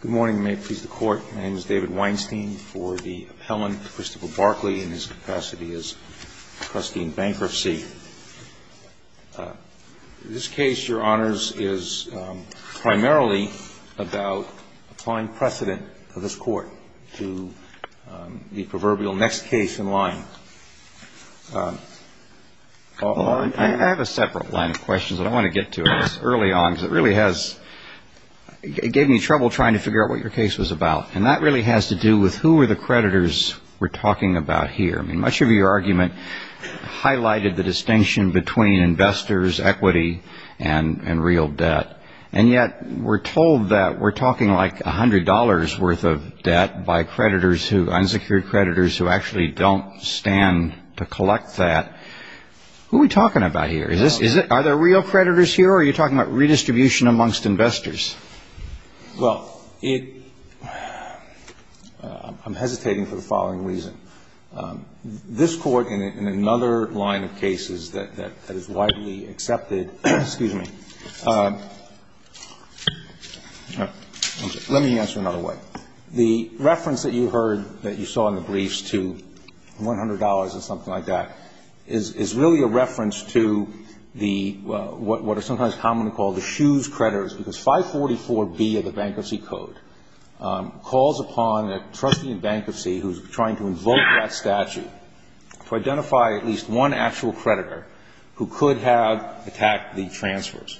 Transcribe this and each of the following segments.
Good morning. May it please the Court. My name is David Weinstein for the appellant, Christopher Barclay, in his capacity as trustee in bankruptcy. This case, Your Honors, is primarily about applying precedent for this Court to the proverbial next case in line. I have a separate line of questions that I want to get to early on because it really has gave me trouble trying to figure out what your case was about, and that really has to do with who were the creditors we're talking about here. I mean, much of your argument highlighted the distinction between investors, equity, and real debt, and yet we're told that we're talking like $100 worth of debt by creditors who, unsecured creditors, who actually don't stand to collect that. Who are we talking about here? Are there real creditors here, or are you talking about redistribution amongst investors? Well, I'm hesitating for the following reason. This Court, in another line of cases that is widely accepted, excuse me, let me answer another way. The reference that you heard that you saw in the briefs to $100 and something like that is really a reference to what are sometimes commonly called the shoes creditors, because 544B of the Bankruptcy Code calls upon a trustee in bankruptcy who's trying to invoke that statute to identify at least one actual creditor who could have attacked the transfers.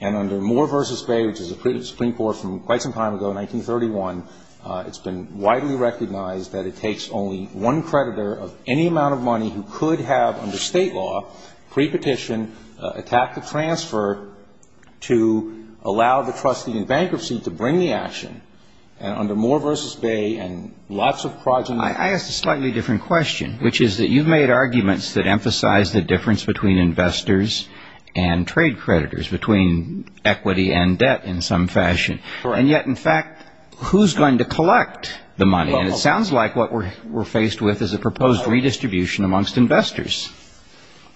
And under Moore v. Bay, which is a Supreme Court from quite some time ago, 1931, it's been widely recognized that it takes only one creditor of any amount of money who could have under state law, pre-petition, attacked the transfer, to allow the trustee in bankruptcy to bring the action. And under Moore v. Bay and lots of projects... I asked a slightly different question, which is that you've made arguments that emphasize the difference between investors and trade creditors, between equity and debt in some fashion. And yet, in fact, who's going to collect the money? And it sounds like what we're faced with is a proposed redistribution amongst investors.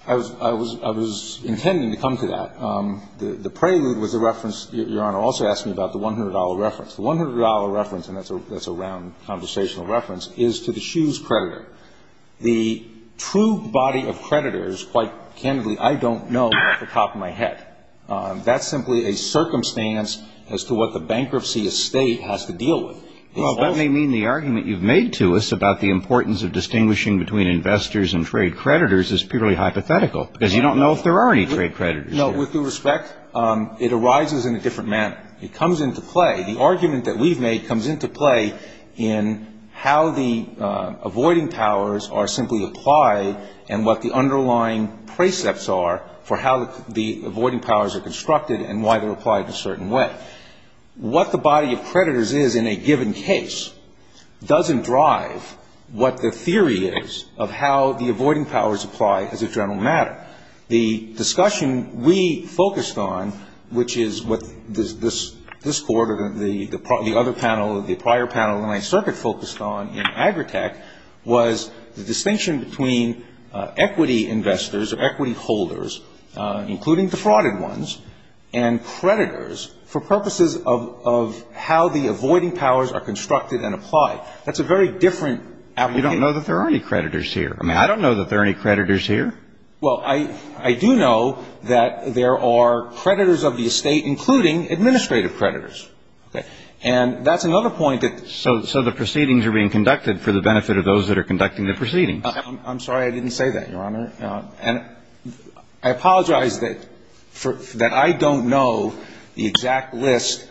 I was intending to come to that. The prelude was a reference. Your Honor also asked me about the $100 reference. The $100 reference, and that's a round, conversational reference, is to the shoes creditor. The true body of creditors, quite candidly, I don't know off the top of my head. That's simply a circumstance as to what the bankruptcy estate has to deal with. Well, that may mean the argument you've made to us about the importance of distinguishing between investors and trade creditors is purely hypothetical, because you don't know if there are any trade creditors here. No, with due respect, it arises in a different manner. It comes into play. The argument that we've made comes into play in how the avoiding powers are simply applied and what the underlying precepts are for how the avoiding powers are constructed and why they're applied in a certain way. What the body of creditors is in a given case doesn't drive what the theory is of how the avoiding powers apply as a general matter. The discussion we focused on, which is what this quarter, the other panel, the prior panel that my circuit focused on in Agritech, was the distinction between equity investors or equity holders, including the frauded ones, and creditors for purposes of how the avoiding powers are constructed and applied. That's a very different application. You don't know that there are any creditors here. I don't know that there are any creditors here. Well, I do know that there are creditors of the estate, including administrative creditors. Okay. And that's another point that the ---- So the proceedings are being conducted for the benefit of those that are conducting the proceedings. I'm sorry I didn't say that, Your Honor. And I apologize that I don't know the exact list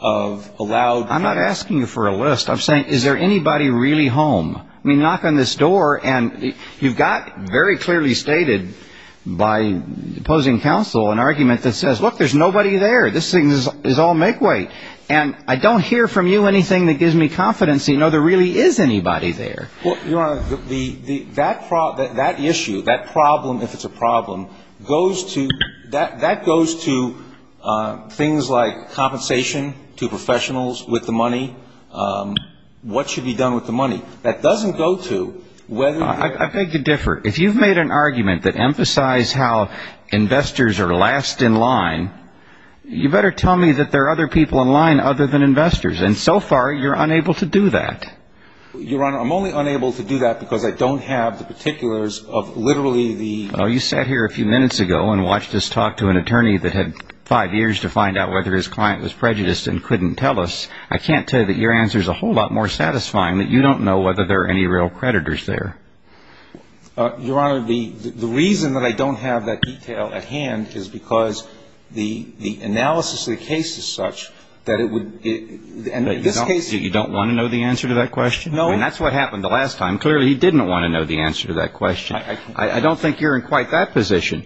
of allowed ---- I'm not asking you for a list. I'm saying is there anybody really home? I mean, knock on this door, and you've got very clearly stated by opposing counsel an argument that says, look, there's nobody there. This thing is all make-weight. And I don't hear from you anything that gives me confidence to know there really is anybody there. Well, Your Honor, that issue, that problem, if it's a problem, goes to ---- that goes to things like compensation to professionals with the money, what should be done with the money. That doesn't go to whether ---- I beg to differ. If you've made an argument that emphasized how investors are last in line, you better tell me that there are other people in line other than investors. And so far, you're unable to do that. Your Honor, I'm only unable to do that because I don't have the particulars of literally the ---- Well, you sat here a few minutes ago and watched us talk to an attorney that had five years to find out whether his client was prejudiced and couldn't tell us. I can't tell you that your answer is a whole lot more satisfying that you don't know whether there are any real creditors there. Your Honor, the reason that I don't have that detail at hand is because the analysis of the case is such that it would ---- You don't want to know the answer to that question? No. And that's what happened the last time. Clearly, he didn't want to know the answer to that question. I don't think you're in quite that position.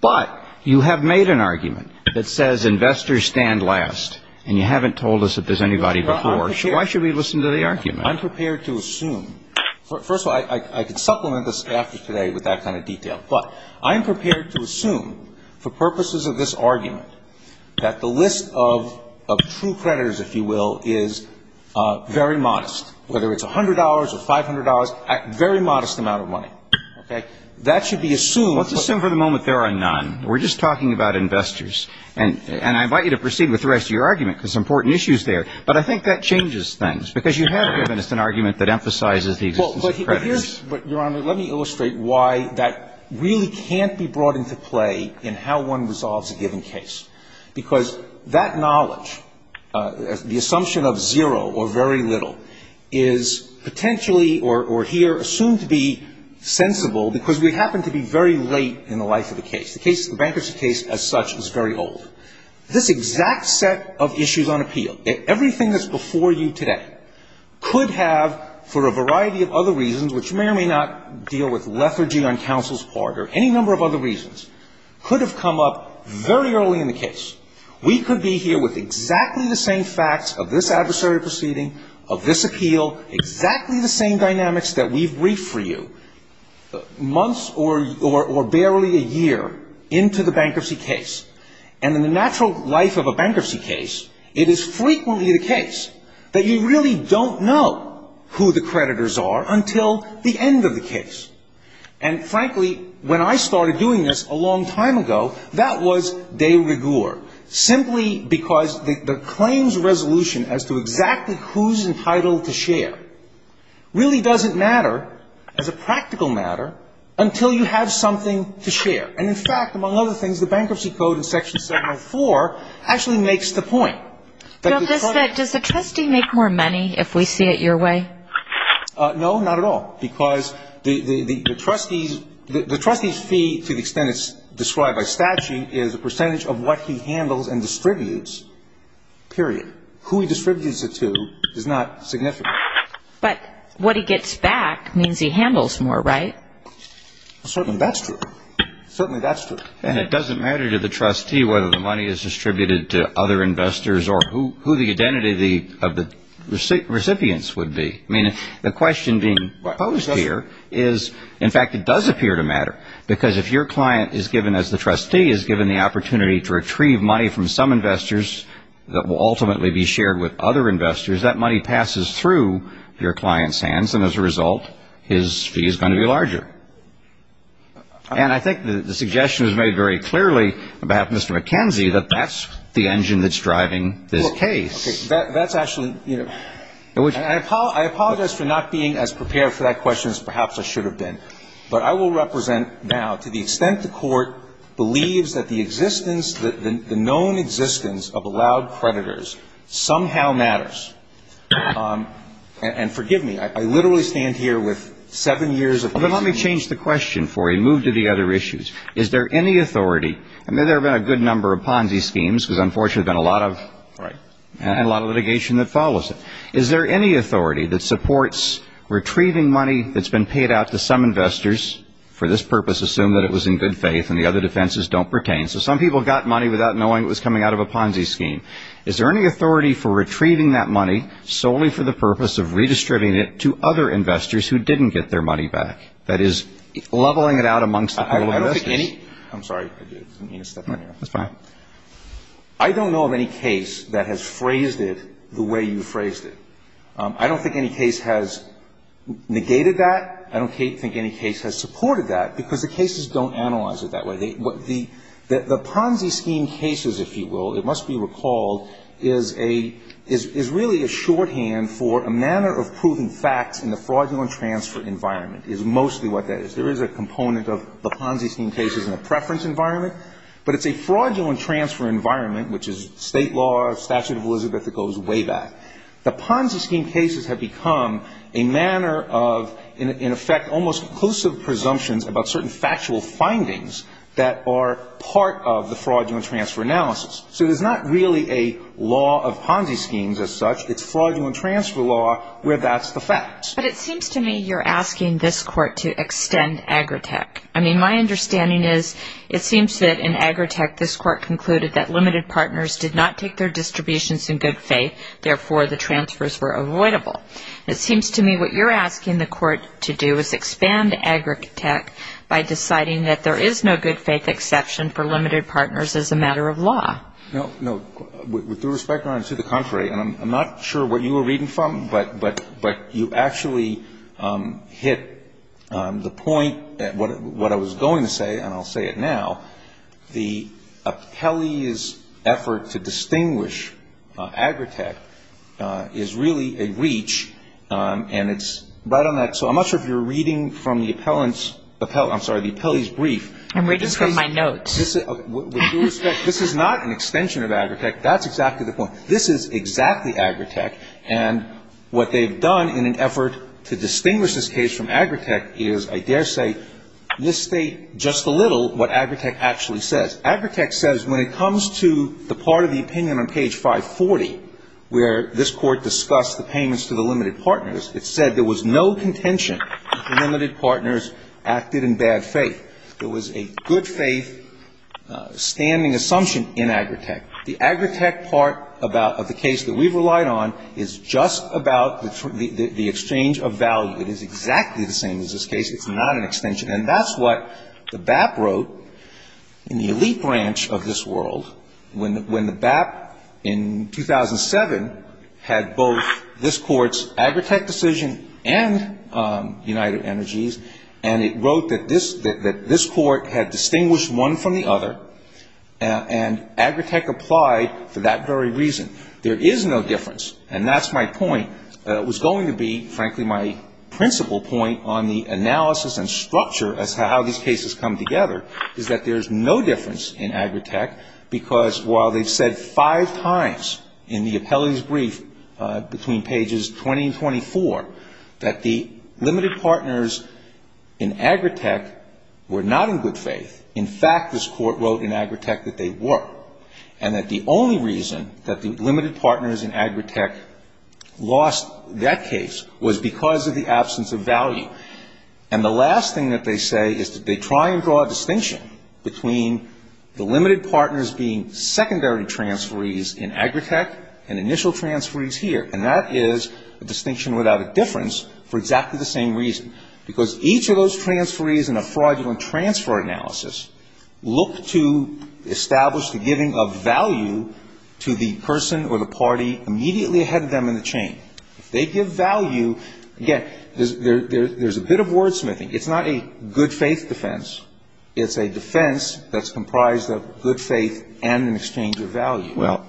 But you have made an argument that says investors stand last, and you haven't told us if there's anybody before. So why should we listen to the argument? I'm prepared to assume. First of all, I could supplement this after today with that kind of detail. But I am prepared to assume for purposes of this argument that the list of true creditors, if you will, is very modest, whether it's $100 or $500, a very modest amount of money. Okay? That should be assumed. Let's assume for the moment there are none. We're just talking about investors. And I invite you to proceed with the rest of your argument, because there's important issues there. But I think that changes things, because you have given us an argument that emphasizes the existence of creditors. But, Your Honor, let me illustrate why that really can't be brought into play in how one resolves a given case. Because that knowledge, the assumption of zero or very little, is potentially or here assumed to be sensible, because we happen to be very late in the life of the case. The bankruptcy case, as such, is very old. This exact set of issues on appeal, everything that's before you today, could have, for a variety of other reasons, which may or may not deal with lethargy on counsel's part or any number of other reasons, could have come up very early in the case. We could be here with exactly the same facts of this adversary proceeding, of this appeal, exactly the same dynamics that we've briefed for you months or barely a year into the bankruptcy case. And in the natural life of a bankruptcy case, it is frequently the case that you really don't know who the creditors are until the end of the case. And, frankly, when I started doing this a long time ago, that was de rigueur, simply because the claims resolution as to exactly who's entitled to share really doesn't matter as a practical matter until you have something to share. And, in fact, among other things, the Bankruptcy Code in Section 704 actually makes the point. Does the trustee make more money if we see it your way? No, not at all, because the trustee's fee, to the extent it's described by statute, is a percentage of what he handles and distributes, period. Who he distributes it to is not significant. But what he gets back means he handles more, right? Certainly that's true. Certainly that's true. And it doesn't matter to the trustee whether the money is distributed to other investors or who the identity of the recipients would be. I mean, the question being posed here is, in fact, it does appear to matter, because if your client is given, as the trustee is given, the opportunity to retrieve money from some investors that will ultimately be shared with other investors, that money passes through your client's hands, and, as a result, his fee is going to be larger. And I think the suggestion is made very clearly about Mr. McKenzie, that that's the engine that's driving this case. Well, okay. That's actually, you know, and I apologize for not being as prepared for that question as perhaps I should have been. But I will represent now to the extent the Court believes that the existence, the known existence of allowed creditors somehow matters. Well, then let me change the question for you and move to the other issues. Is there any authority, and there have been a good number of Ponzi schemes, because unfortunately there's been a lot of litigation that follows it. Is there any authority that supports retrieving money that's been paid out to some investors, for this purpose assume that it was in good faith and the other defenses don't pertain. So some people got money without knowing it was coming out of a Ponzi scheme. Is there any authority for retrieving that money solely for the purpose of redistributing it to other investors who didn't get their money back, that is leveling it out amongst the pool of investors? I don't think any – I'm sorry. I didn't mean to step on you. That's fine. I don't know of any case that has phrased it the way you phrased it. I don't think any case has negated that. I don't think any case has supported that, because the cases don't analyze it that way. The Ponzi scheme cases, if you will, it must be recalled, is really a shorthand for a manner of proving facts in the fraudulent transfer environment is mostly what that is. There is a component of the Ponzi scheme cases in a preference environment, but it's a fraudulent transfer environment, which is state law, statute of Elizabeth, that goes way back. The Ponzi scheme cases have become a manner of, in effect, almost conclusive presumptions about certain factual findings that are part of the fraudulent transfer analysis. So there's not really a law of Ponzi schemes as such. It's fraudulent transfer law where that's the fact. But it seems to me you're asking this court to extend Agritech. I mean, my understanding is it seems that in Agritech, this court concluded that limited partners did not take their distributions in good faith. Therefore, the transfers were avoidable. It seems to me what you're asking the court to do is expand Agritech by deciding that there is no good faith exception for limited partners as a matter of law. No. With due respect, Your Honor, to the contrary, and I'm not sure what you were reading from, but you actually hit the point, what I was going to say, and I'll say it now. The appellee's effort to distinguish Agritech is really a reach, and it's right on that. So I'm not sure if you're reading from the appellant's, I'm sorry, the appellee's brief. I'm reading from my notes. With due respect, this is not an extension of Agritech. That's exactly the point. This is exactly Agritech. And what they've done in an effort to distinguish this case from Agritech is, I dare say, misstate just a little what Agritech actually says. Agritech says when it comes to the part of the opinion on page 540 where this court discussed the payments to the limited partners, it said there was no contention that the limited partners acted in bad faith. There was a good faith standing assumption in Agritech. The Agritech part of the case that we've relied on is just about the exchange of value. It is exactly the same as this case. It's not an extension. And that's what the BAP wrote in the elite branch of this world when the BAP in 2007 had both this court's Agritech decision and United Energies, and it wrote that this court had distinguished one from the other, and Agritech applied for that very reason. There is no difference, and that's my point. It was going to be, frankly, my principal point on the analysis and structure as to how these cases come together, is that there is no difference in Agritech, because while they've said five times in the appellee's brief between pages 20 and 24 that the limited partners in Agritech were not in good faith, in fact, this court wrote in Agritech that they were, and that the only reason that the limited partners in Agritech lost that case was because of the absence of value. And the last thing that they say is that they try and draw a distinction between the limited partners being secondary transferees in Agritech and initial transferees here, and that is a distinction without a difference for exactly the same reason, because each of those transferees in a fraudulent transfer analysis look to establish the giving of value to the person or the party immediately ahead of them in the chain. If they give value, again, there's a bit of wordsmithing. It's not a good faith defense. It's a defense that's comprised of good faith and an exchange of value. Well,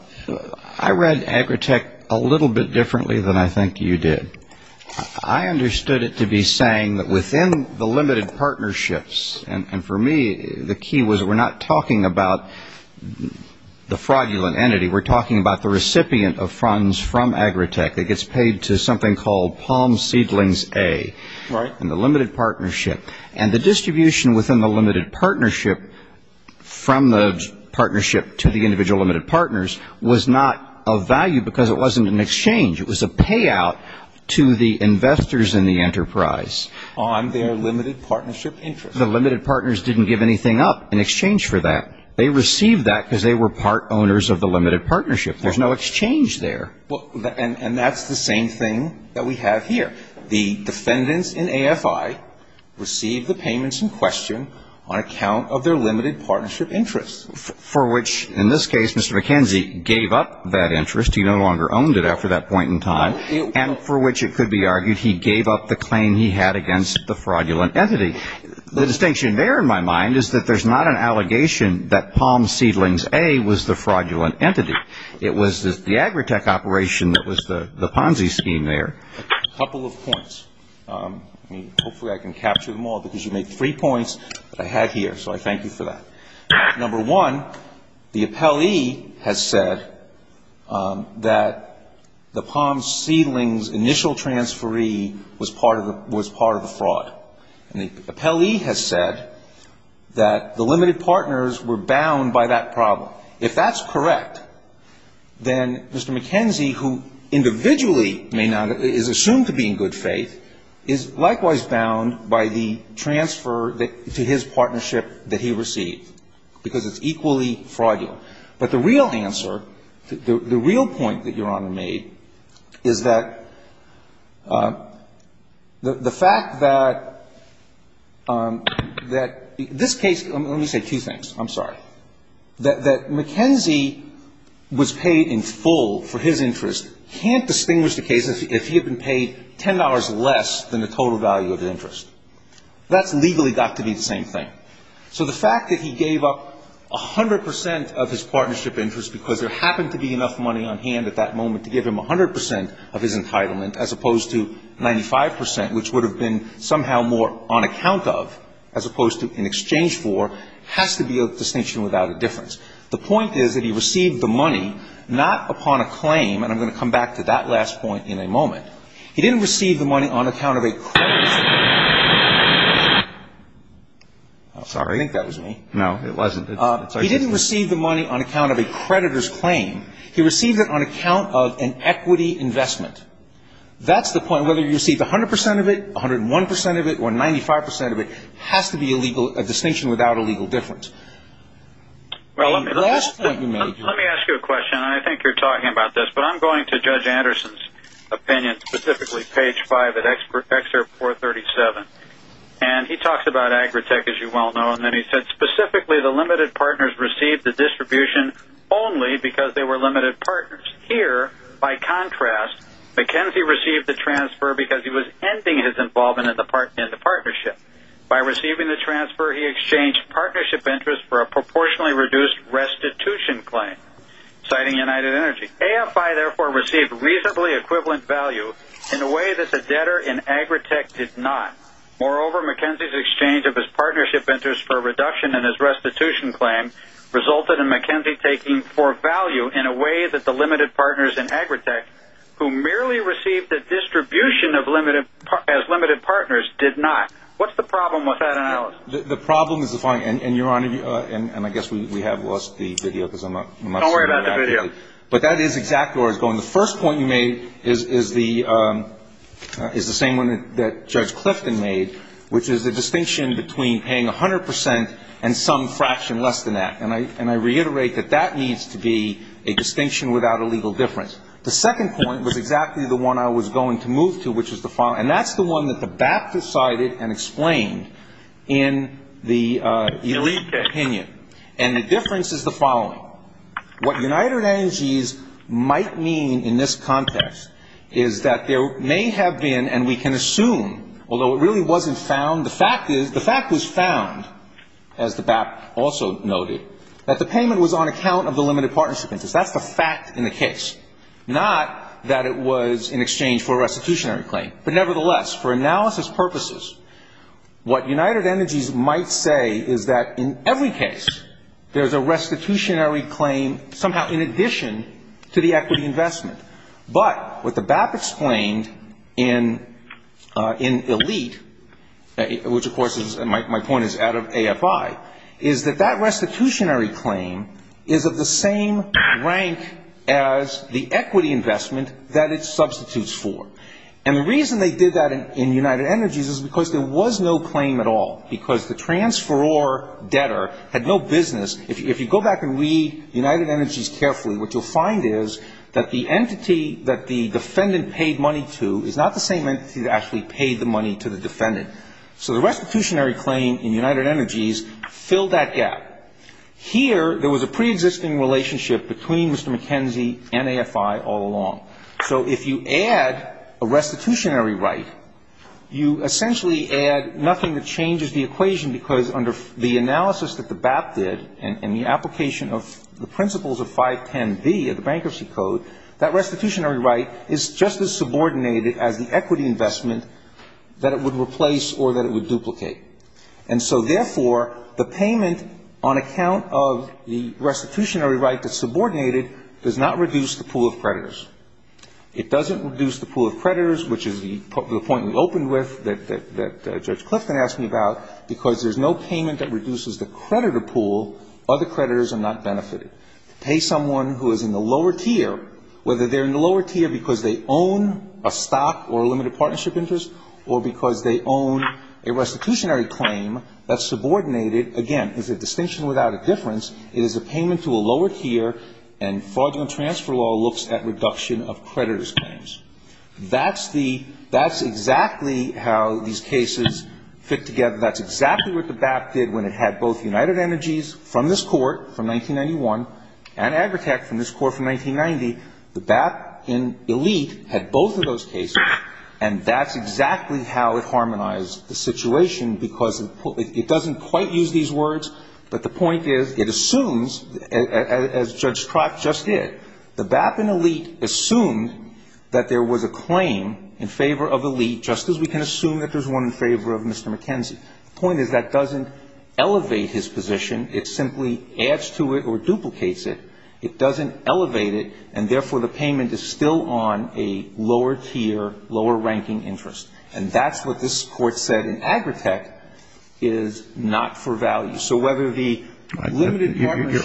I read Agritech a little bit differently than I think you did. I understood it to be saying that within the limited partnerships, and for me the key was we're not talking about the fraudulent entity, we're talking about the recipient of funds from Agritech that gets paid to something called Palm Seedlings A. Right. And the distribution within the limited partnership from the partnership to the individual limited partners was not of value, because it wasn't an exchange. It was a payout to the investors in the enterprise. On their limited partnership interest. The limited partners didn't give anything up in exchange for that. They received that because they were part owners of the limited partnership. There's no exchange there. And that's the same thing that we have here. The defendants in AFI received the payments in question on account of their limited partnership interest. For which, in this case, Mr. McKenzie gave up that interest. He no longer owned it after that point in time. And for which it could be argued he gave up the claim he had against the fraudulent entity. The distinction there in my mind is that there's not an allegation that Palm Seedlings A was the fraudulent entity. It was the Agritech operation that was the Ponzi scheme there. A couple of points. Hopefully I can capture them all, because you made three points that I had here. So I thank you for that. Number one, the appellee has said that the Palm Seedlings initial transferee was part of the fraud. And the appellee has said that the limited partners were bound by that problem. Now, if that's correct, then Mr. McKenzie, who individually is assumed to be in good faith, is likewise bound by the transfer to his partnership that he received. Because it's equally fraudulent. But the real answer, the real point that Your Honor made is that the fact that this case, let me say two things. I'm sorry. That McKenzie was paid in full for his interest can't distinguish the case if he had been paid $10 less than the total value of the interest. That's legally got to be the same thing. So the fact that he gave up 100 percent of his partnership interest because there happened to be enough money on hand at that moment to give him 100 percent of his entitlement, as opposed to 95 percent, which would have been somehow more on account of, as opposed to in exchange for, has to be a distinction without a difference. The point is that he received the money not upon a claim, and I'm going to come back to that last point in a moment. He didn't receive the money on account of a creditor's claim. I think that was me. No, it wasn't. He didn't receive the money on account of a creditor's claim. He received it on account of an equity investment. That's the point. Whether you received 100 percent of it, 101 percent of it, or 95 percent of it has to be a distinction without a legal difference. The last point you made. Let me ask you a question, and I think you're talking about this, but I'm going to Judge Anderson's opinion, specifically page 5 at Excerpt 437, and he talks about Agritech, as you well know, and then he said specifically the limited partners received the distribution only because they were limited partners. Here, by contrast, McKenzie received the transfer because he was ending his involvement in the partnership. By receiving the transfer, he exchanged partnership interest for a proportionally reduced restitution claim, citing United Energy. AFI, therefore, received reasonably equivalent value in a way that the debtor in Agritech did not. Moreover, McKenzie's exchange of his partnership interest for a reduction in his restitution claim resulted in McKenzie taking for value in a way that the limited partners in Agritech, who merely received the distribution as limited partners, did not. What's the problem with that analysis? The problem is the following, and, Your Honor, and I guess we have lost the video. Don't worry about the video. But that is exactly where I was going. The first point you made is the same one that Judge Clifton made, which is the distinction between paying 100% and some fraction less than that. And I reiterate that that needs to be a distinction without a legal difference. The second point was exactly the one I was going to move to, which is the following. And that's the one that the BAPT decided and explained in the elite opinion. And the difference is the following. What United Energy might mean in this context is that there may have been, and we can assume, although it really wasn't found, the fact is the fact was found, as the BAPT also noted, that the payment was on account of the limited partnership interest. That's the fact in the case, not that it was in exchange for a restitutionary claim. But nevertheless, for analysis purposes, what United Energy might say is that in every case, there's a restitutionary claim somehow in addition to the equity investment. But what the BAPT explained in elite, which, of course, my point is out of AFI, is that that restitutionary claim is of the same rank as the equity investment that it substitutes for. And the reason they did that in United Energy is because there was no claim at all, because the transferor debtor had no business. If you go back and read United Energy's carefully, what you'll find is that the entity that the defendant paid money to is not the same entity that actually paid the money to the defendant. So the restitutionary claim in United Energy's filled that gap. Here, there was a preexisting relationship between Mr. McKenzie and AFI all along. So if you add a restitutionary right, you essentially add nothing that changes the equation, because under the analysis that the BAPT did and the application of the principles of 510B of the Bankruptcy Code, that restitutionary right is just as subordinated as the equity investment that it would replace or that it would duplicate. And so, therefore, the payment on account of the restitutionary right that's subordinated does not reduce the pool of creditors. It doesn't reduce the pool of creditors, which is the point we opened with, that Judge Clifton asked me about. Because there's no payment that reduces the creditor pool, other creditors are not benefited. To pay someone who is in the lower tier, whether they're in the lower tier because they own a stock or a limited partnership interest or because they own a restitutionary claim that's subordinated, again, is a distinction without a difference. It is a payment to a lower tier, and fraudulent transfer law looks at reduction of creditors' claims. That's the – that's exactly how these cases fit together. That's exactly what the BAPT did when it had both United Energies from this Court from 1991 and Agritech from this Court from 1990. The BAPT in Elite had both of those cases, and that's exactly how it harmonized the situation because it doesn't quite use these words, but the point is it assumes, as Judge Trock just did, the BAPT in Elite assumed that there was a claim in favor of Elite, just as we can assume that there's one in favor of Mr. McKenzie. The point is that doesn't elevate his position. It simply adds to it or duplicates it. It doesn't elevate it, and therefore the payment is still on a lower tier, lower-ranking interest. And that's what this Court said in Agritech is not for value. So whether the limited partnership –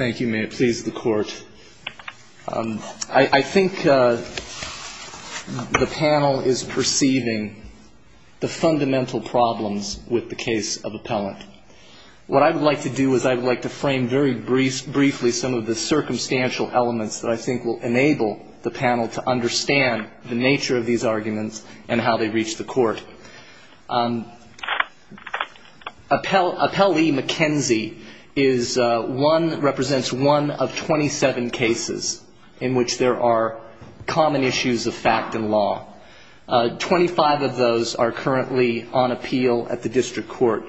Thank you. May it please the Court. I think the panel is perceiving the fundamental problems with the case of Appellant. What I would like to do is I would like to frame very briefly what I think is the fundamental problem with the case of Appellant. some of the circumstantial elements that I think will enable the panel to understand the nature of these arguments and how they reach the Court. Appellee McKenzie is one that represents one of 27 cases in which there are common issues of fact and law. Twenty-five of those are currently on appeal at the district court.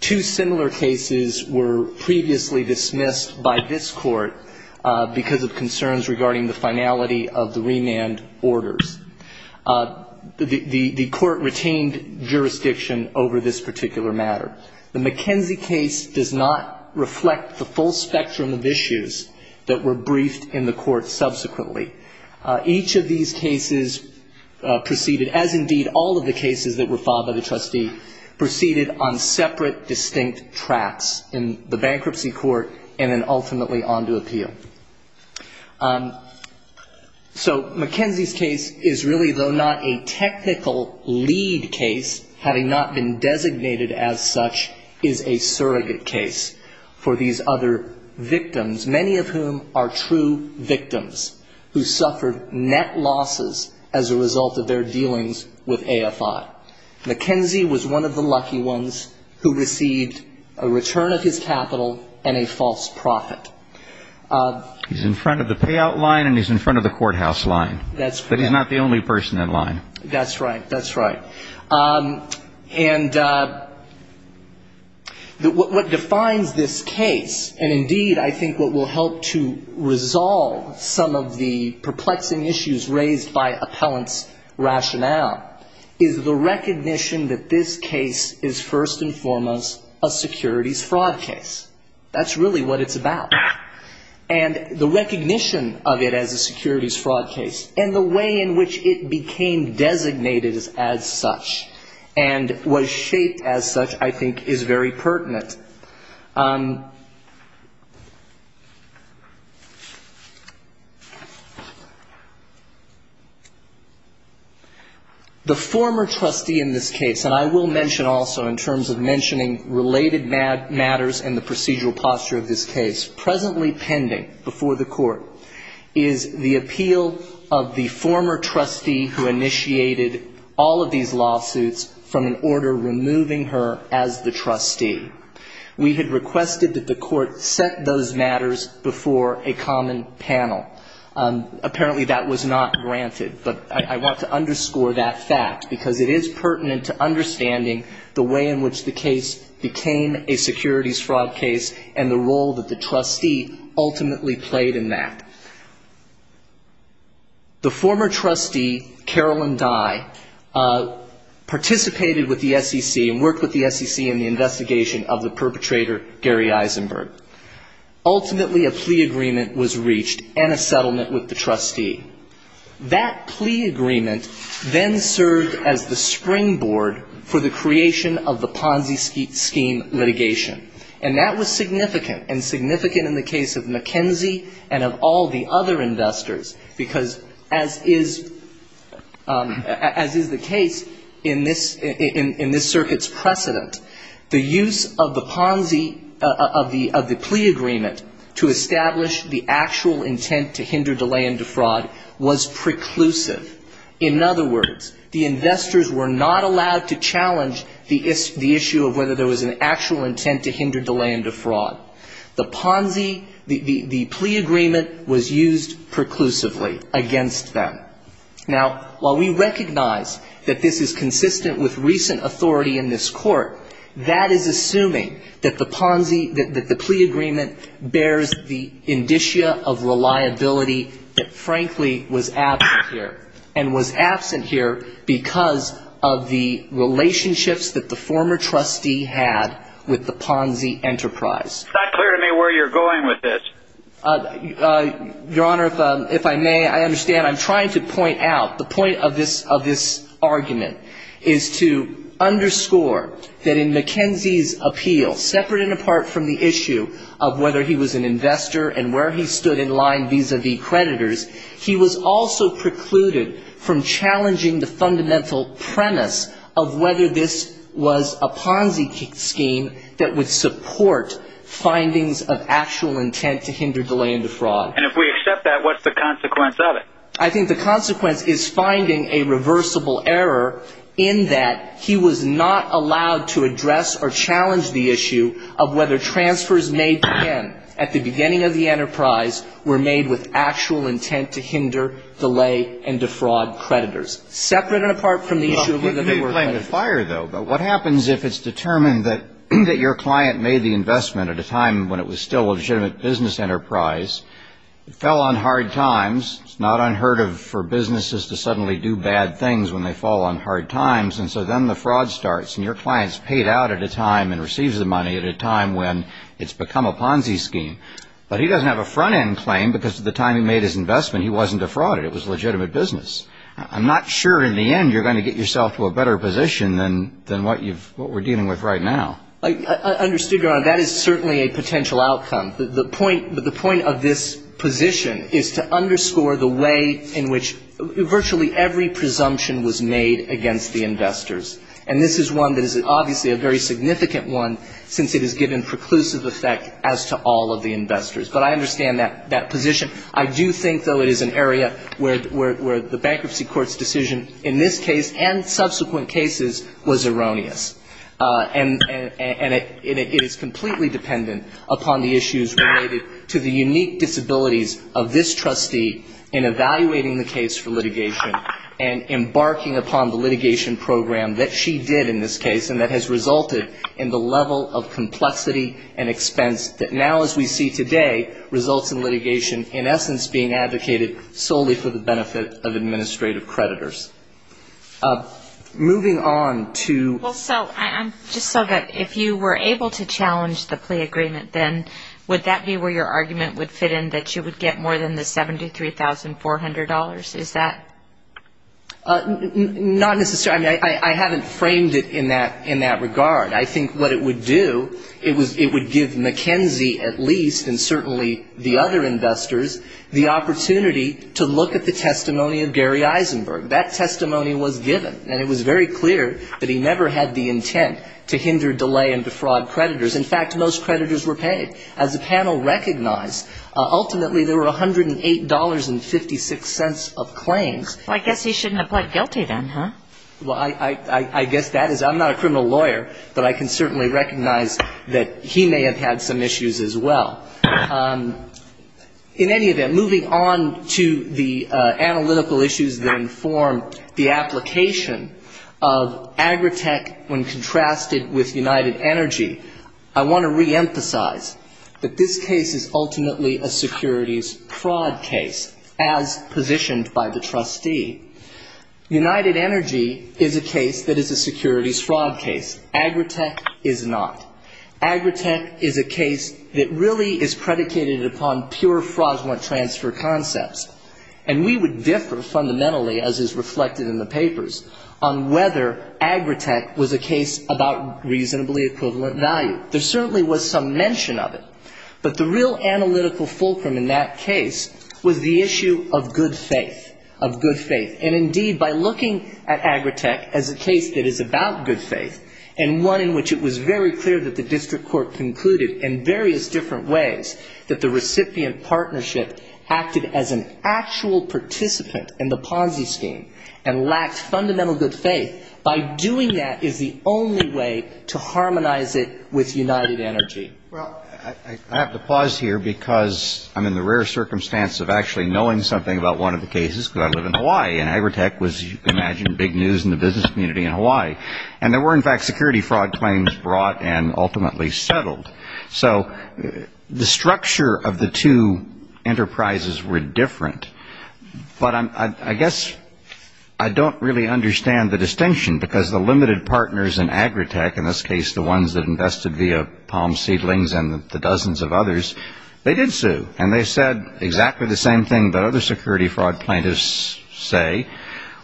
Two similar cases were previously dismissed by this Court because of concerns regarding the finality of the remand orders. The Court retained jurisdiction over this particular matter. The McKenzie case does not reflect the full spectrum of issues that were briefed in the Court subsequently. Each of these cases proceeded, as indeed all of the cases that were filed by the trustee, proceeded on separate distinct tracks in the bankruptcy court and then ultimately on to appeal. So McKenzie's case is really, though not a technical lead case, having not been designated as such, is a surrogate case for these other victims, many of whom are true victims, who suffered net losses as a result of their dealings with AFI. McKenzie was one of the lucky ones who received a return of his capital and a false profit. He's in front of the payout line and he's in front of the courthouse line. That's right. But he's not the only person in line. That's right. That's right. And what defines this case, and indeed I think what will help to resolve some of the perplexing issues raised by appellant's rationale, is the recognition that this case is first and foremost a securities fraud case. That's really what it's about. And the recognition of it as a securities fraud case and the way in which it became designated as such and was shaped as such I think is very pertinent. The former trustee in this case, and I will mention also in terms of mentioning related matters and the procedural posture of this case, presently pending before the court, is the appeal of the former trustee who initiated all of these lawsuits from an order removing her as the trustee. We had requested that the court set those matters before a common panel. Apparently that was not granted, but I want to underscore that fact because it is pertinent to understanding the way in which the case became a securities fraud case and the role that the trustee ultimately played in that. The former trustee, Carolyn Dye, participated with the SEC and worked with the SEC in the investigation of the perpetrator, Gary Eisenberg. Ultimately a plea agreement was reached and a settlement with the trustee. That plea agreement then served as the springboard for the creation of the Ponzi scheme litigation. And that was significant, and significant in the case of McKenzie and of all the other investors, because as is the case in this circuit's precedent, the use of the Ponzi, of the plea agreement, to establish the actual intent to hinder, delay, and defraud was preclusive. In other words, the investors were not allowed to challenge the issue of whether there was an actual intent to hinder, delay, and defraud. The Ponzi, the plea agreement was used preclusively against them. Now, while we recognize that this is consistent with recent authority in this court, that is assuming that the Ponzi, that the plea agreement bears the indicia of reliability that frankly was absent here, and was absent here because of the relationships that the former trustee had with the Ponzi enterprise. It's not clear to me where you're going with this. Your Honor, if I may, I understand. The point of this argument is to underscore that in McKenzie's appeal, separate and apart from the issue of whether he was an investor and where he stood in line vis-a-vis creditors, he was also precluded from challenging the fundamental premise of whether this was a Ponzi scheme that would support findings of actual intent to hinder, delay, and defraud. And if we accept that, what's the consequence of it? I think the consequence is finding a reversible error in that he was not allowed to address or challenge the issue of whether transfers made to him at the beginning of the enterprise were made with actual intent to hinder, delay, and defraud creditors. Separate and apart from the issue of whether they were creditors. You're playing with fire, though. But what happens if it's determined that your client made the investment at a time when it was still a legitimate business enterprise, fell on hard times, it's not unheard of for businesses to suddenly do bad things when they fall on hard times, and so then the fraud starts and your client's paid out at a time and receives the money at a time when it's become a Ponzi scheme. But he doesn't have a front-end claim because at the time he made his investment, he wasn't defrauded. It was a legitimate business. I'm not sure in the end you're going to get yourself to a better position than what we're dealing with right now. I understood, Your Honor. That is certainly a potential outcome. The point of this position is to underscore the way in which virtually every presumption was made against the investors. And this is one that is obviously a very significant one since it has given preclusive effect as to all of the investors. But I understand that position. I do think, though, it is an area where the bankruptcy court's decision in this case and subsequent cases was erroneous. And it is completely dependent upon the issues related to the unique disabilities of this trustee in evaluating the case for litigation and embarking upon the litigation program that she did in this case and that has resulted in the level of complexity and expense that now as we see today results in litigation in essence being advocated solely for the benefit of administrative creditors. Moving on to – Well, so just so that if you were able to challenge the plea agreement, then would that be where your argument would fit in that you would get more than the $73,400? Is that – Not necessarily. I mean, I haven't framed it in that regard. I think what it would do, it would give McKenzie, at least, and certainly the other investors, the opportunity to look at the testimony of Gary Eisenberg. That testimony was given. And it was very clear that he never had the intent to hinder, delay, and defraud creditors. In fact, most creditors were paid. As the panel recognized, ultimately there were $108.56 of claims. Well, I guess he shouldn't have pled guilty then, huh? Well, I guess that is – I'm not a criminal lawyer, but I can certainly recognize that he may have had some issues as well. In any event, moving on to the analytical issues that inform the application of Agritech when contrasted with United Energy, I want to reemphasize that this case is ultimately a securities fraud case, as positioned by the trustee. United Energy is a case that is a securities fraud case. Agritech is not. Agritech is a case that really is predicated upon pure fraudulent transfer concepts. And we would differ fundamentally, as is reflected in the papers, on whether Agritech was a case about reasonably equivalent value. There certainly was some mention of it. But the real analytical fulcrum in that case was the issue of good faith, of good faith. And, indeed, by looking at Agritech as a case that is about good faith and one in which it was very clear that the district court concluded in various different ways that the recipient partnership acted as an actual participant in the Ponzi scheme and lacked fundamental good faith, by doing that is the only way to harmonize it with United Energy. Well, I have to pause here because I'm in the rare circumstance of actually knowing something about one of the cases because I live in Hawaii, and Agritech was, as you can imagine, big news in the business community in Hawaii. And there were, in fact, security fraud claims brought and ultimately settled. So the structure of the two enterprises were different. But I guess I don't really understand the distinction because the limited partners in Agritech, in this case the ones that invested via Palm Seedlings and the dozens of others, they did sue. And they said exactly the same thing that other security fraud plaintiffs say.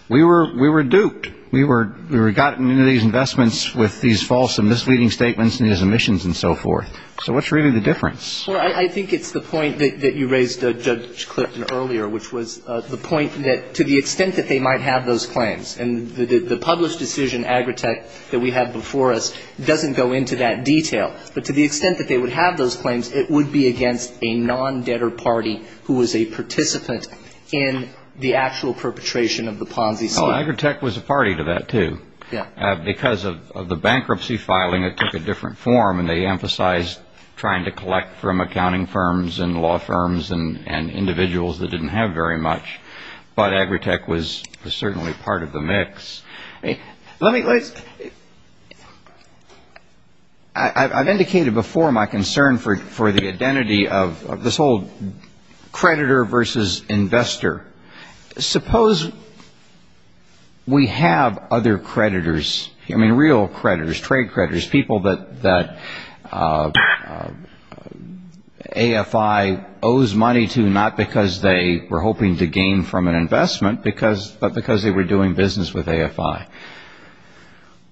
We were duped. We were gotten into these investments with these false and misleading statements and these omissions and so forth. So what's really the difference? Well, I think it's the point that you raised, Judge Clifton, earlier, which was the point that to the extent that they might have those claims, and the published decision, Agritech, that we have before us doesn't go into that detail. But to the extent that they would have those claims, it would be against a non-debtor party who was a participant in the actual perpetration of the Ponzi scheme. And Agritech was a party to that, too. Because of the bankruptcy filing, it took a different form, and they emphasized trying to collect from accounting firms and law firms and individuals that didn't have very much. But Agritech was certainly part of the mix. Let me – I've indicated before my concern for the identity of this whole creditor versus investor. Suppose we have other creditors, I mean, real creditors, trade creditors, people that AFI owes money to not because they were hoping to gain from an investment, but because they were doing business with AFI.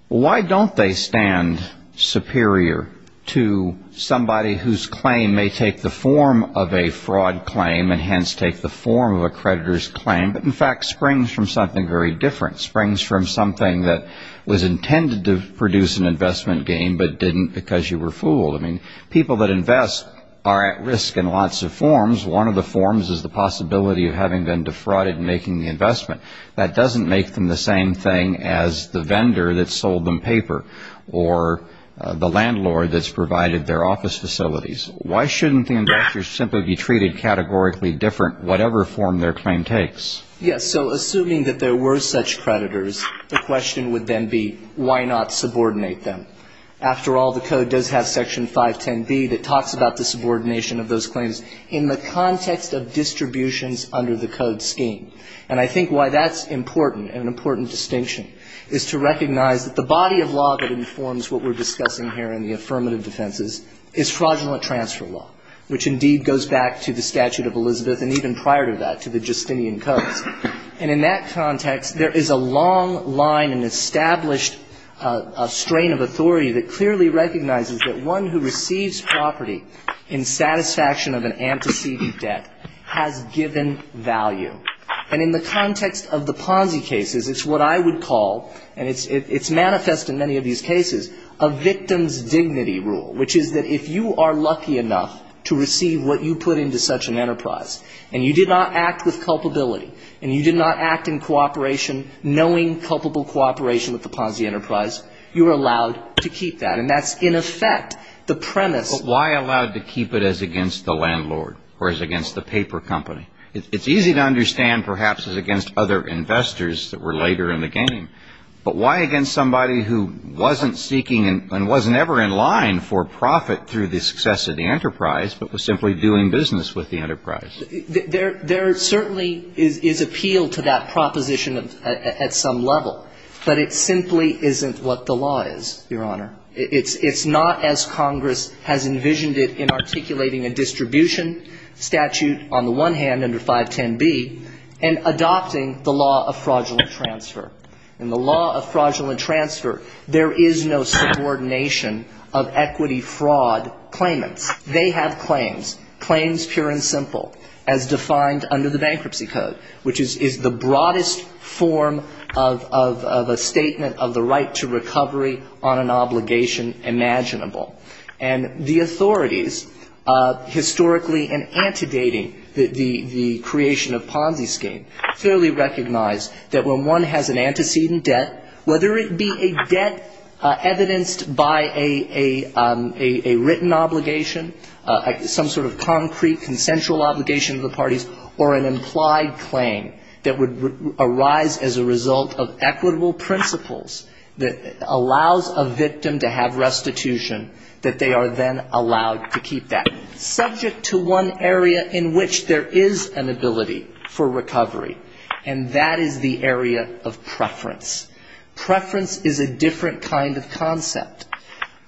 Why don't they stand superior to somebody whose claim may take the form of a fraud claim and hence take the form of a creditor's claim, but in fact springs from something very different, springs from something that was intended to produce an investment gain but didn't because you were fooled? I mean, people that invest are at risk in lots of forms. One of the forms is the possibility of having been defrauded and making the investment. That doesn't make them the same thing as the vendor that sold them paper or the landlord that's provided their office facilities. Why shouldn't the investors simply be treated categorically different, whatever form their claim takes? Yes. So assuming that there were such creditors, the question would then be why not subordinate them? After all, the Code does have Section 510B that talks about the subordination of those claims in the context of distributions under the Code scheme. And I think why that's important, an important distinction, is to recognize that the body of law that informs what we're discussing here in the affirmative defenses is fraudulent transfer law, which indeed goes back to the statute of Elizabeth and even prior to that to the Justinian Codes. And in that context, there is a long line, an established strain of authority that clearly recognizes that one who receives property in satisfaction of an antecedent debt has given value. And in the context of the Ponzi cases, it's what I would call, and it's manifest in many of these cases, a victim's dignity rule, which is that if you are lucky enough to receive what you put into such an enterprise and you did not act with culpability and you did not act in cooperation, knowing culpable cooperation with the Ponzi enterprise, you are allowed to keep that. And that's, in effect, the premise. But why allowed to keep it as against the landlord or as against the paper company? It's easy to understand perhaps as against other investors that were later in the game. But why against somebody who wasn't seeking and wasn't ever in line for profit through the success of the enterprise but was simply doing business with the enterprise? There certainly is appeal to that proposition at some level. But it simply isn't what the law is, Your Honor. It's not as Congress has envisioned it in articulating a distribution statute on the one hand under 510B and adopting the law of fraudulent transfer. In the law of fraudulent transfer, there is no subordination of equity fraud claimants. They have claims, claims pure and simple, as defined under the Bankruptcy Code, which is the broadest form of a statement of the right to recovery on an obligation imaginable. And the authorities, historically in antedating the creation of Ponzi scheme, clearly recognized that when one has an antecedent debt, whether it be a debt evidenced by a written obligation, some sort of concrete consensual obligation to the parties, or an implied claim that would arise as a result of equitable principles that allows a victim to have restitution, that they are then allowed to keep that, subject to one area in which there is an ability for recovery, and that is the area of preference. Preference is a different kind of concept.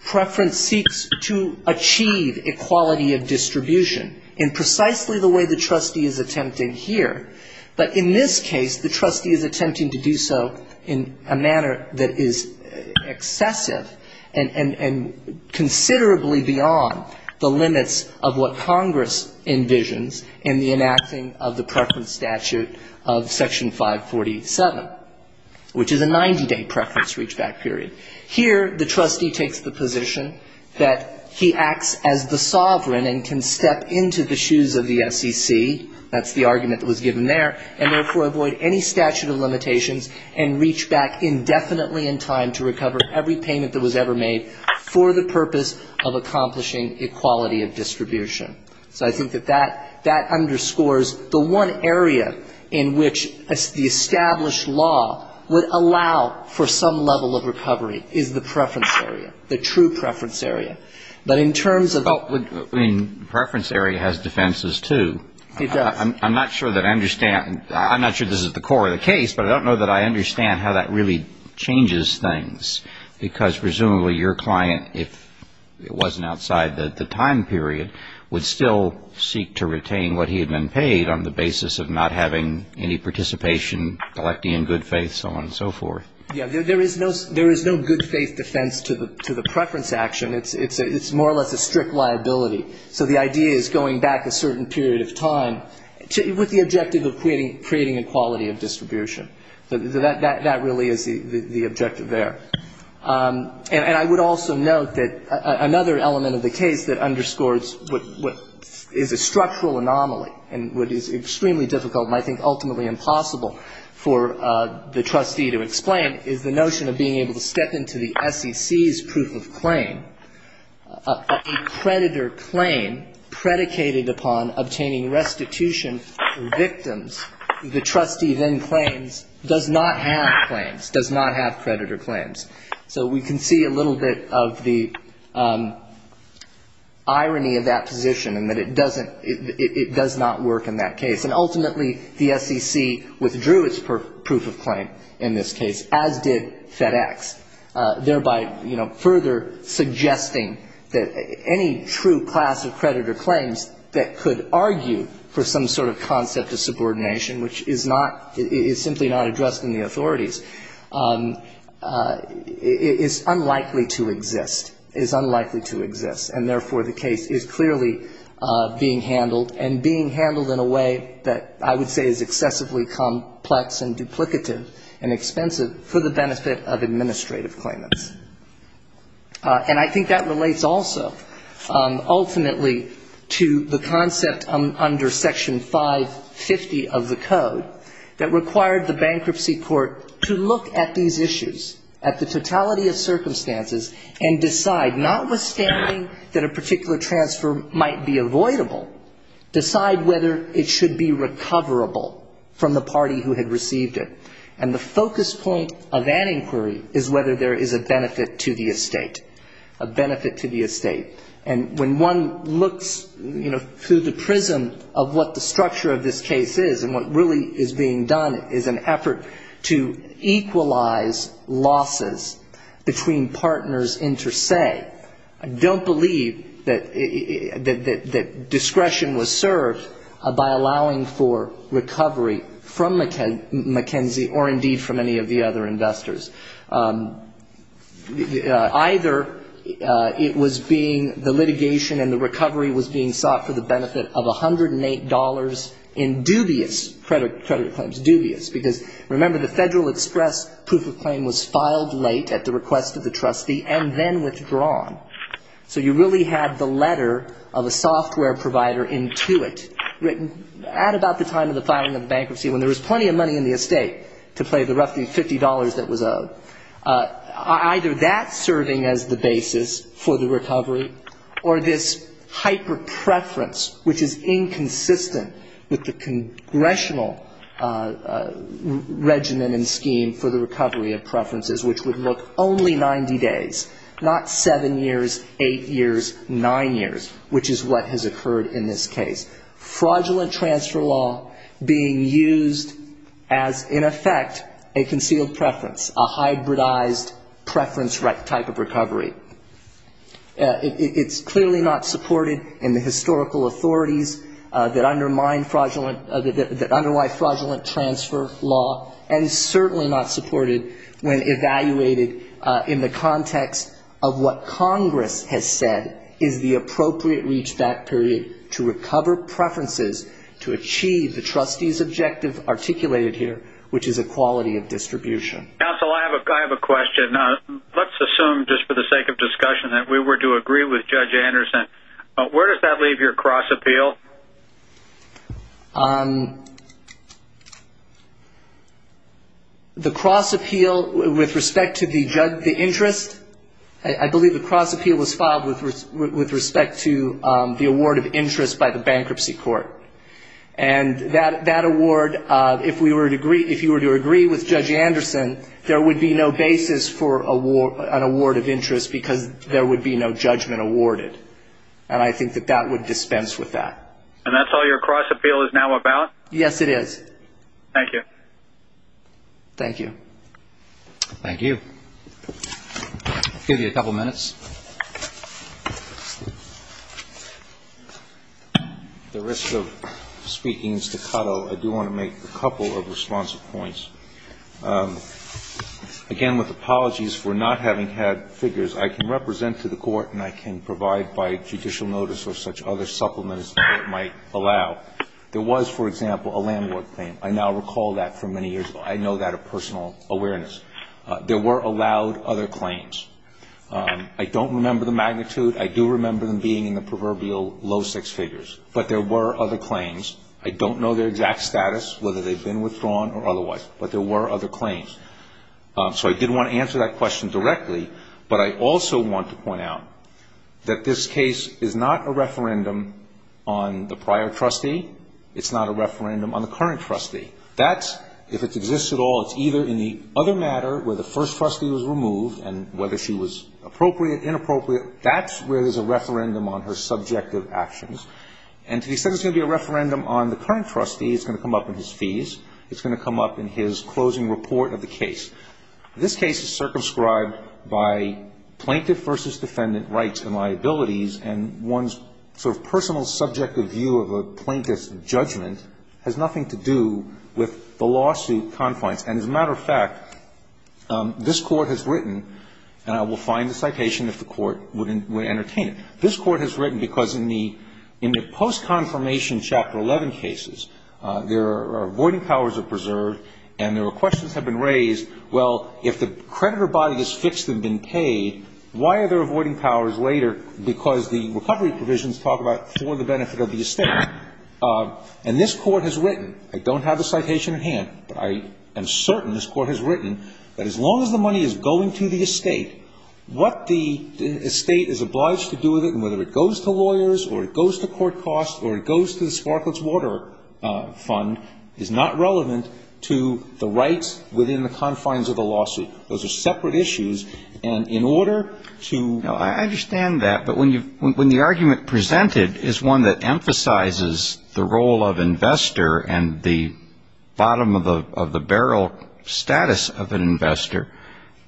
Preference seeks to achieve equality of distribution in precisely the way the trustee is attempting here. But in this case, the trustee is attempting to do so in a manner that is excessive and considerably beyond the limits of what Congress envisions in the enacting of the preference statute of Section 547, which is a 90-day preference reachback period. Here, the trustee takes the position that he acts as the sovereign and can step into the shoes of the SEC. That's the argument that was given there. And therefore, avoid any statute of limitations and reach back indefinitely in time to recover every payment that was ever made for the purpose of accomplishing equality of distribution. So I think that that underscores the one area in which the established law would allow for some level of recovery is the preference area, the true preference area. But in terms of what would I mean, the preference area has defenses, too. It does. I'm not sure that I understand. I'm not sure this is the core of the case, but I don't know that I understand how that really changes things, because presumably your client, if it wasn't outside the time period, would still seek to retain what he had been paid on the basis of not having any participation, collecting in good faith, so on and so forth. Yes. There is no good faith defense to the preference action. It's more or less a strict liability. So the idea is going back a certain period of time with the objective of creating equality of distribution. That really is the objective there. And I would also note that another element of the case that underscores what is a structural anomaly and what is extremely difficult and I think ultimately impossible for the trustee to explain is the notion of being able to step into the SEC's proof of claim, a creditor claim predicated upon obtaining restitution for victims, the trustee then claims does not have claims, does not have creditor claims. So we can see a little bit of the irony of that position and that it doesn't, it does not work in that case. And ultimately, the SEC withdrew its proof of claim in this case, as did FedEx, thereby, you know, further suggesting that any true class of creditor claims that could argue for some sort of concept of subordination, which is not, is simply not addressed in the authorities, is unlikely to exist, is unlikely to exist. And therefore, the case is clearly being handled and being handled in a way that I would say is excessively complex and duplicative and expensive for the benefit of administrative claimants. And I think that relates also ultimately to the concept under Section 550 of the Code that required the bankruptcy court to look at these issues, at the totality of circumstances, and decide, notwithstanding that a particular transfer might be avoidable, decide whether it should be recoverable from the party who had received it. And the focus point of that inquiry is whether there is a benefit to the estate, a benefit to the estate. And when one looks, you know, through the prism of what the structure of this case is and what really is being done is an effort to equalize losses between partners inter se. I don't believe that discretion was served by allowing for recovery from McKenzie or indeed from any of the other investors. Either it was being, the litigation and the recovery was being sought for the benefit of $108 in dubious credit claims, dubious, because remember, the Federal Express proof of claim was filed late at the request of the trustee and then withdrawn. So you really had the letter of a software provider into it written at about the time of the filing of the bankruptcy when there was plenty of money in the estate to pay the roughly $50 that was owed. Either that serving as the basis for the recovery or this hyper-preference, which is inconsistent with the congressional regimen and scheme for the recovery of preferences, which would look only 90 days, not seven years, eight years, nine years, which is what has occurred in this case. Fraudulent transfer law being used as, in effect, a concealed preference, a hybridized preference type of recovery. It's clearly not supported in the historical authorities that undermine fraudulent, that underlie fraudulent transfer law, and certainly not supported when evaluated in the context of what Congress has said is the appropriate reachback period to recover preferences. To achieve the trustee's objective articulated here, which is equality of distribution. Counsel, I have a question. Let's assume, just for the sake of discussion, that we were to agree with Judge Anderson. Where does that leave your cross-appeal? The cross-appeal with respect to the interest, I believe the cross-appeal was filed with respect to the award of interest by the bankruptcy court. And that award, if we were to agree, if you were to agree with Judge Anderson, there would be no basis for an award of interest, because there would be no judgment awarded. And I think that that would dispense with that. And that's all your cross-appeal is now about? Yes, it is. Thank you. Thank you. I'll give you a couple of minutes. At the risk of speaking staccato, I do want to make a couple of responsive points. Again, with apologies for not having had figures, I can represent to the court, and I can provide by judicial notice or such other supplements that it might allow. There was, for example, a land work claim. I now recall that from many years ago. I know that of personal awareness. There were allowed other claims. I don't remember the magnitude. I do remember them being in the proverbial low six figures. But there were other claims. I don't know their exact status, whether they've been withdrawn or otherwise. But there were other claims. So I did want to answer that question directly. But I also want to point out that this case is not a referendum on the prior trustees, it's not a referendum on the current trustee. That, if it exists at all, it's either in the other matter, where the first trustee was removed, and whether she was appropriate, inappropriate, that's where there's a referendum on her subjective actions. And to the extent there's going to be a referendum on the current trustee, it's going to come up in his fees. It's going to come up in his closing report of the case. This case is circumscribed by plaintiff versus defendant rights and liabilities, and one's sort of personal subjective view of a plaintiff versus defendant rights. And I think that this judgment has nothing to do with the lawsuit confines. And as a matter of fact, this Court has written, and I will find the citation if the Court would entertain it. This Court has written because in the post-confirmation Chapter 11 cases, their avoiding powers are preserved and their questions have been raised, well, if the creditor body is fixed and been paid, why are there avoiding powers later because the recovery provisions talk about for the benefit of the estate. And this Court has written, I don't have the citation at hand, but I am certain this Court has written that as long as the money is going to the estate, what the estate is obliged to do with it, and whether it goes to lawyers or it goes to court costs or it goes to the Sparkletts Water Fund, is not relevant to the rights within the confines of the lawsuit. Those are separate issues. And in order to ---- No, I understand that. But when the argument presented is one that emphasizes the role of investor and the bottom of the barrel status of an investor,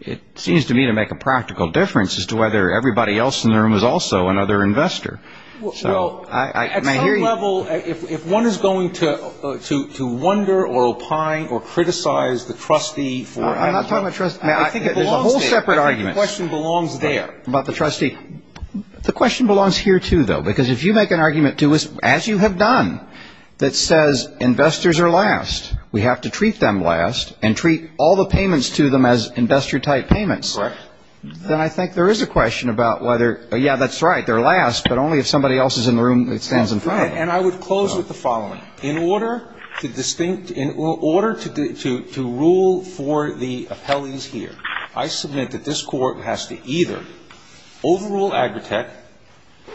it seems to me to make a practical difference as to whether everybody else in the room is also another investor. Well, at some level, if one is going to wonder or opine or criticize the trustee for ---- I'm not talking about trustee. There's a whole separate argument about the trustee. The question belongs here, too, though, because if you make an argument, too, as you have done, that says investors are last, we have to treat them last and treat all the payments to them as investor-type payments, then I think there is a question about whether, yeah, that's right, they're last, but only if somebody else is in the room that stands in front of them. And I would close with the following. In order to distinct ---- in order to rule for the appellees here, I submit that this Court has to either overrule Agritech,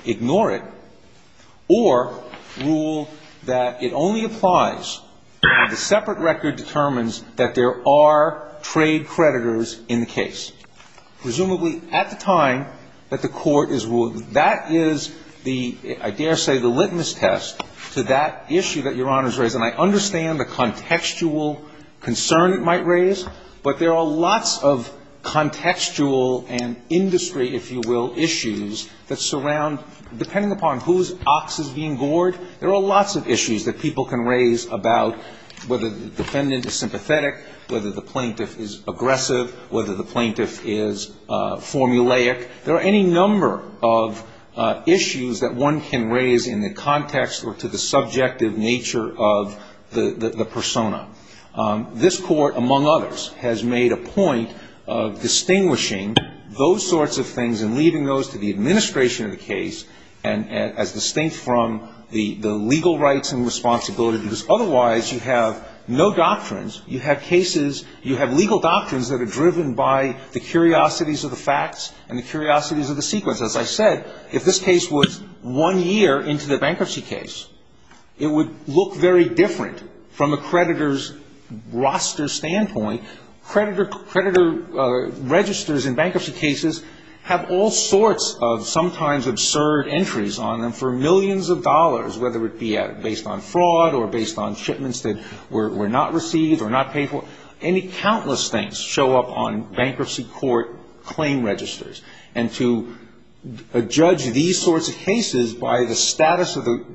ignore it, or rule that it only applies when the separate record determines that there are trade creditors in the case, presumably at the time that the Court is ruling. That is the ---- I dare say the litmus test to that issue that Your Honor has raised. And I understand the contextual concern it might raise, but there are lots of contextual and industry, if you will, issues that surround ---- depending upon whose ox is being gored, there are lots of issues that people can raise about whether the defendant is sympathetic, whether the plaintiff is aggressive, whether the plaintiff is formulaic. There are any number of issues that one can raise in the context or to the subjective nature of the persona. This Court, among others, has made a point of distinguishing those sorts of things and leaving those to the administration of the case as distinct from the legal rights and responsibilities. Otherwise, you have no doctrines. You have cases ---- you have legal doctrines that are driven by the curiosities of the facts and the curiosities of the sequence. As I said, if this case was one year into the bankruptcy case, it would look very different. From a creditor's roster standpoint, creditor registers in bankruptcy cases have all sorts of sometimes absurd entries on them for millions of dollars, whether it be based on fraud or based on shipments that were not received or not paid for. Any countless things show up on bankruptcy court claim registers. And to judge these sorts of cases by the status of the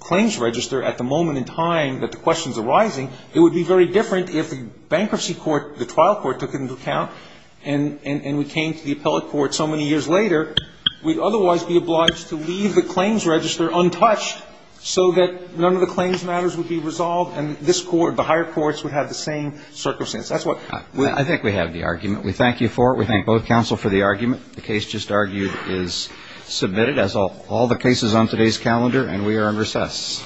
claims register at the moment in time that the question is arising, it would be very different if the bankruptcy court, the trial court, took it into account and we came to the appellate court so many years later. We'd otherwise be obliged to leave the claims register untouched so that none of the claims matters would be resolved and this court, the higher courts, would have the same circumstances. That's what ---- I think we have the argument. We thank you for it. We thank both counsel for the argument. The case just argued is submitted as all the cases on today's calendar and we are in recess.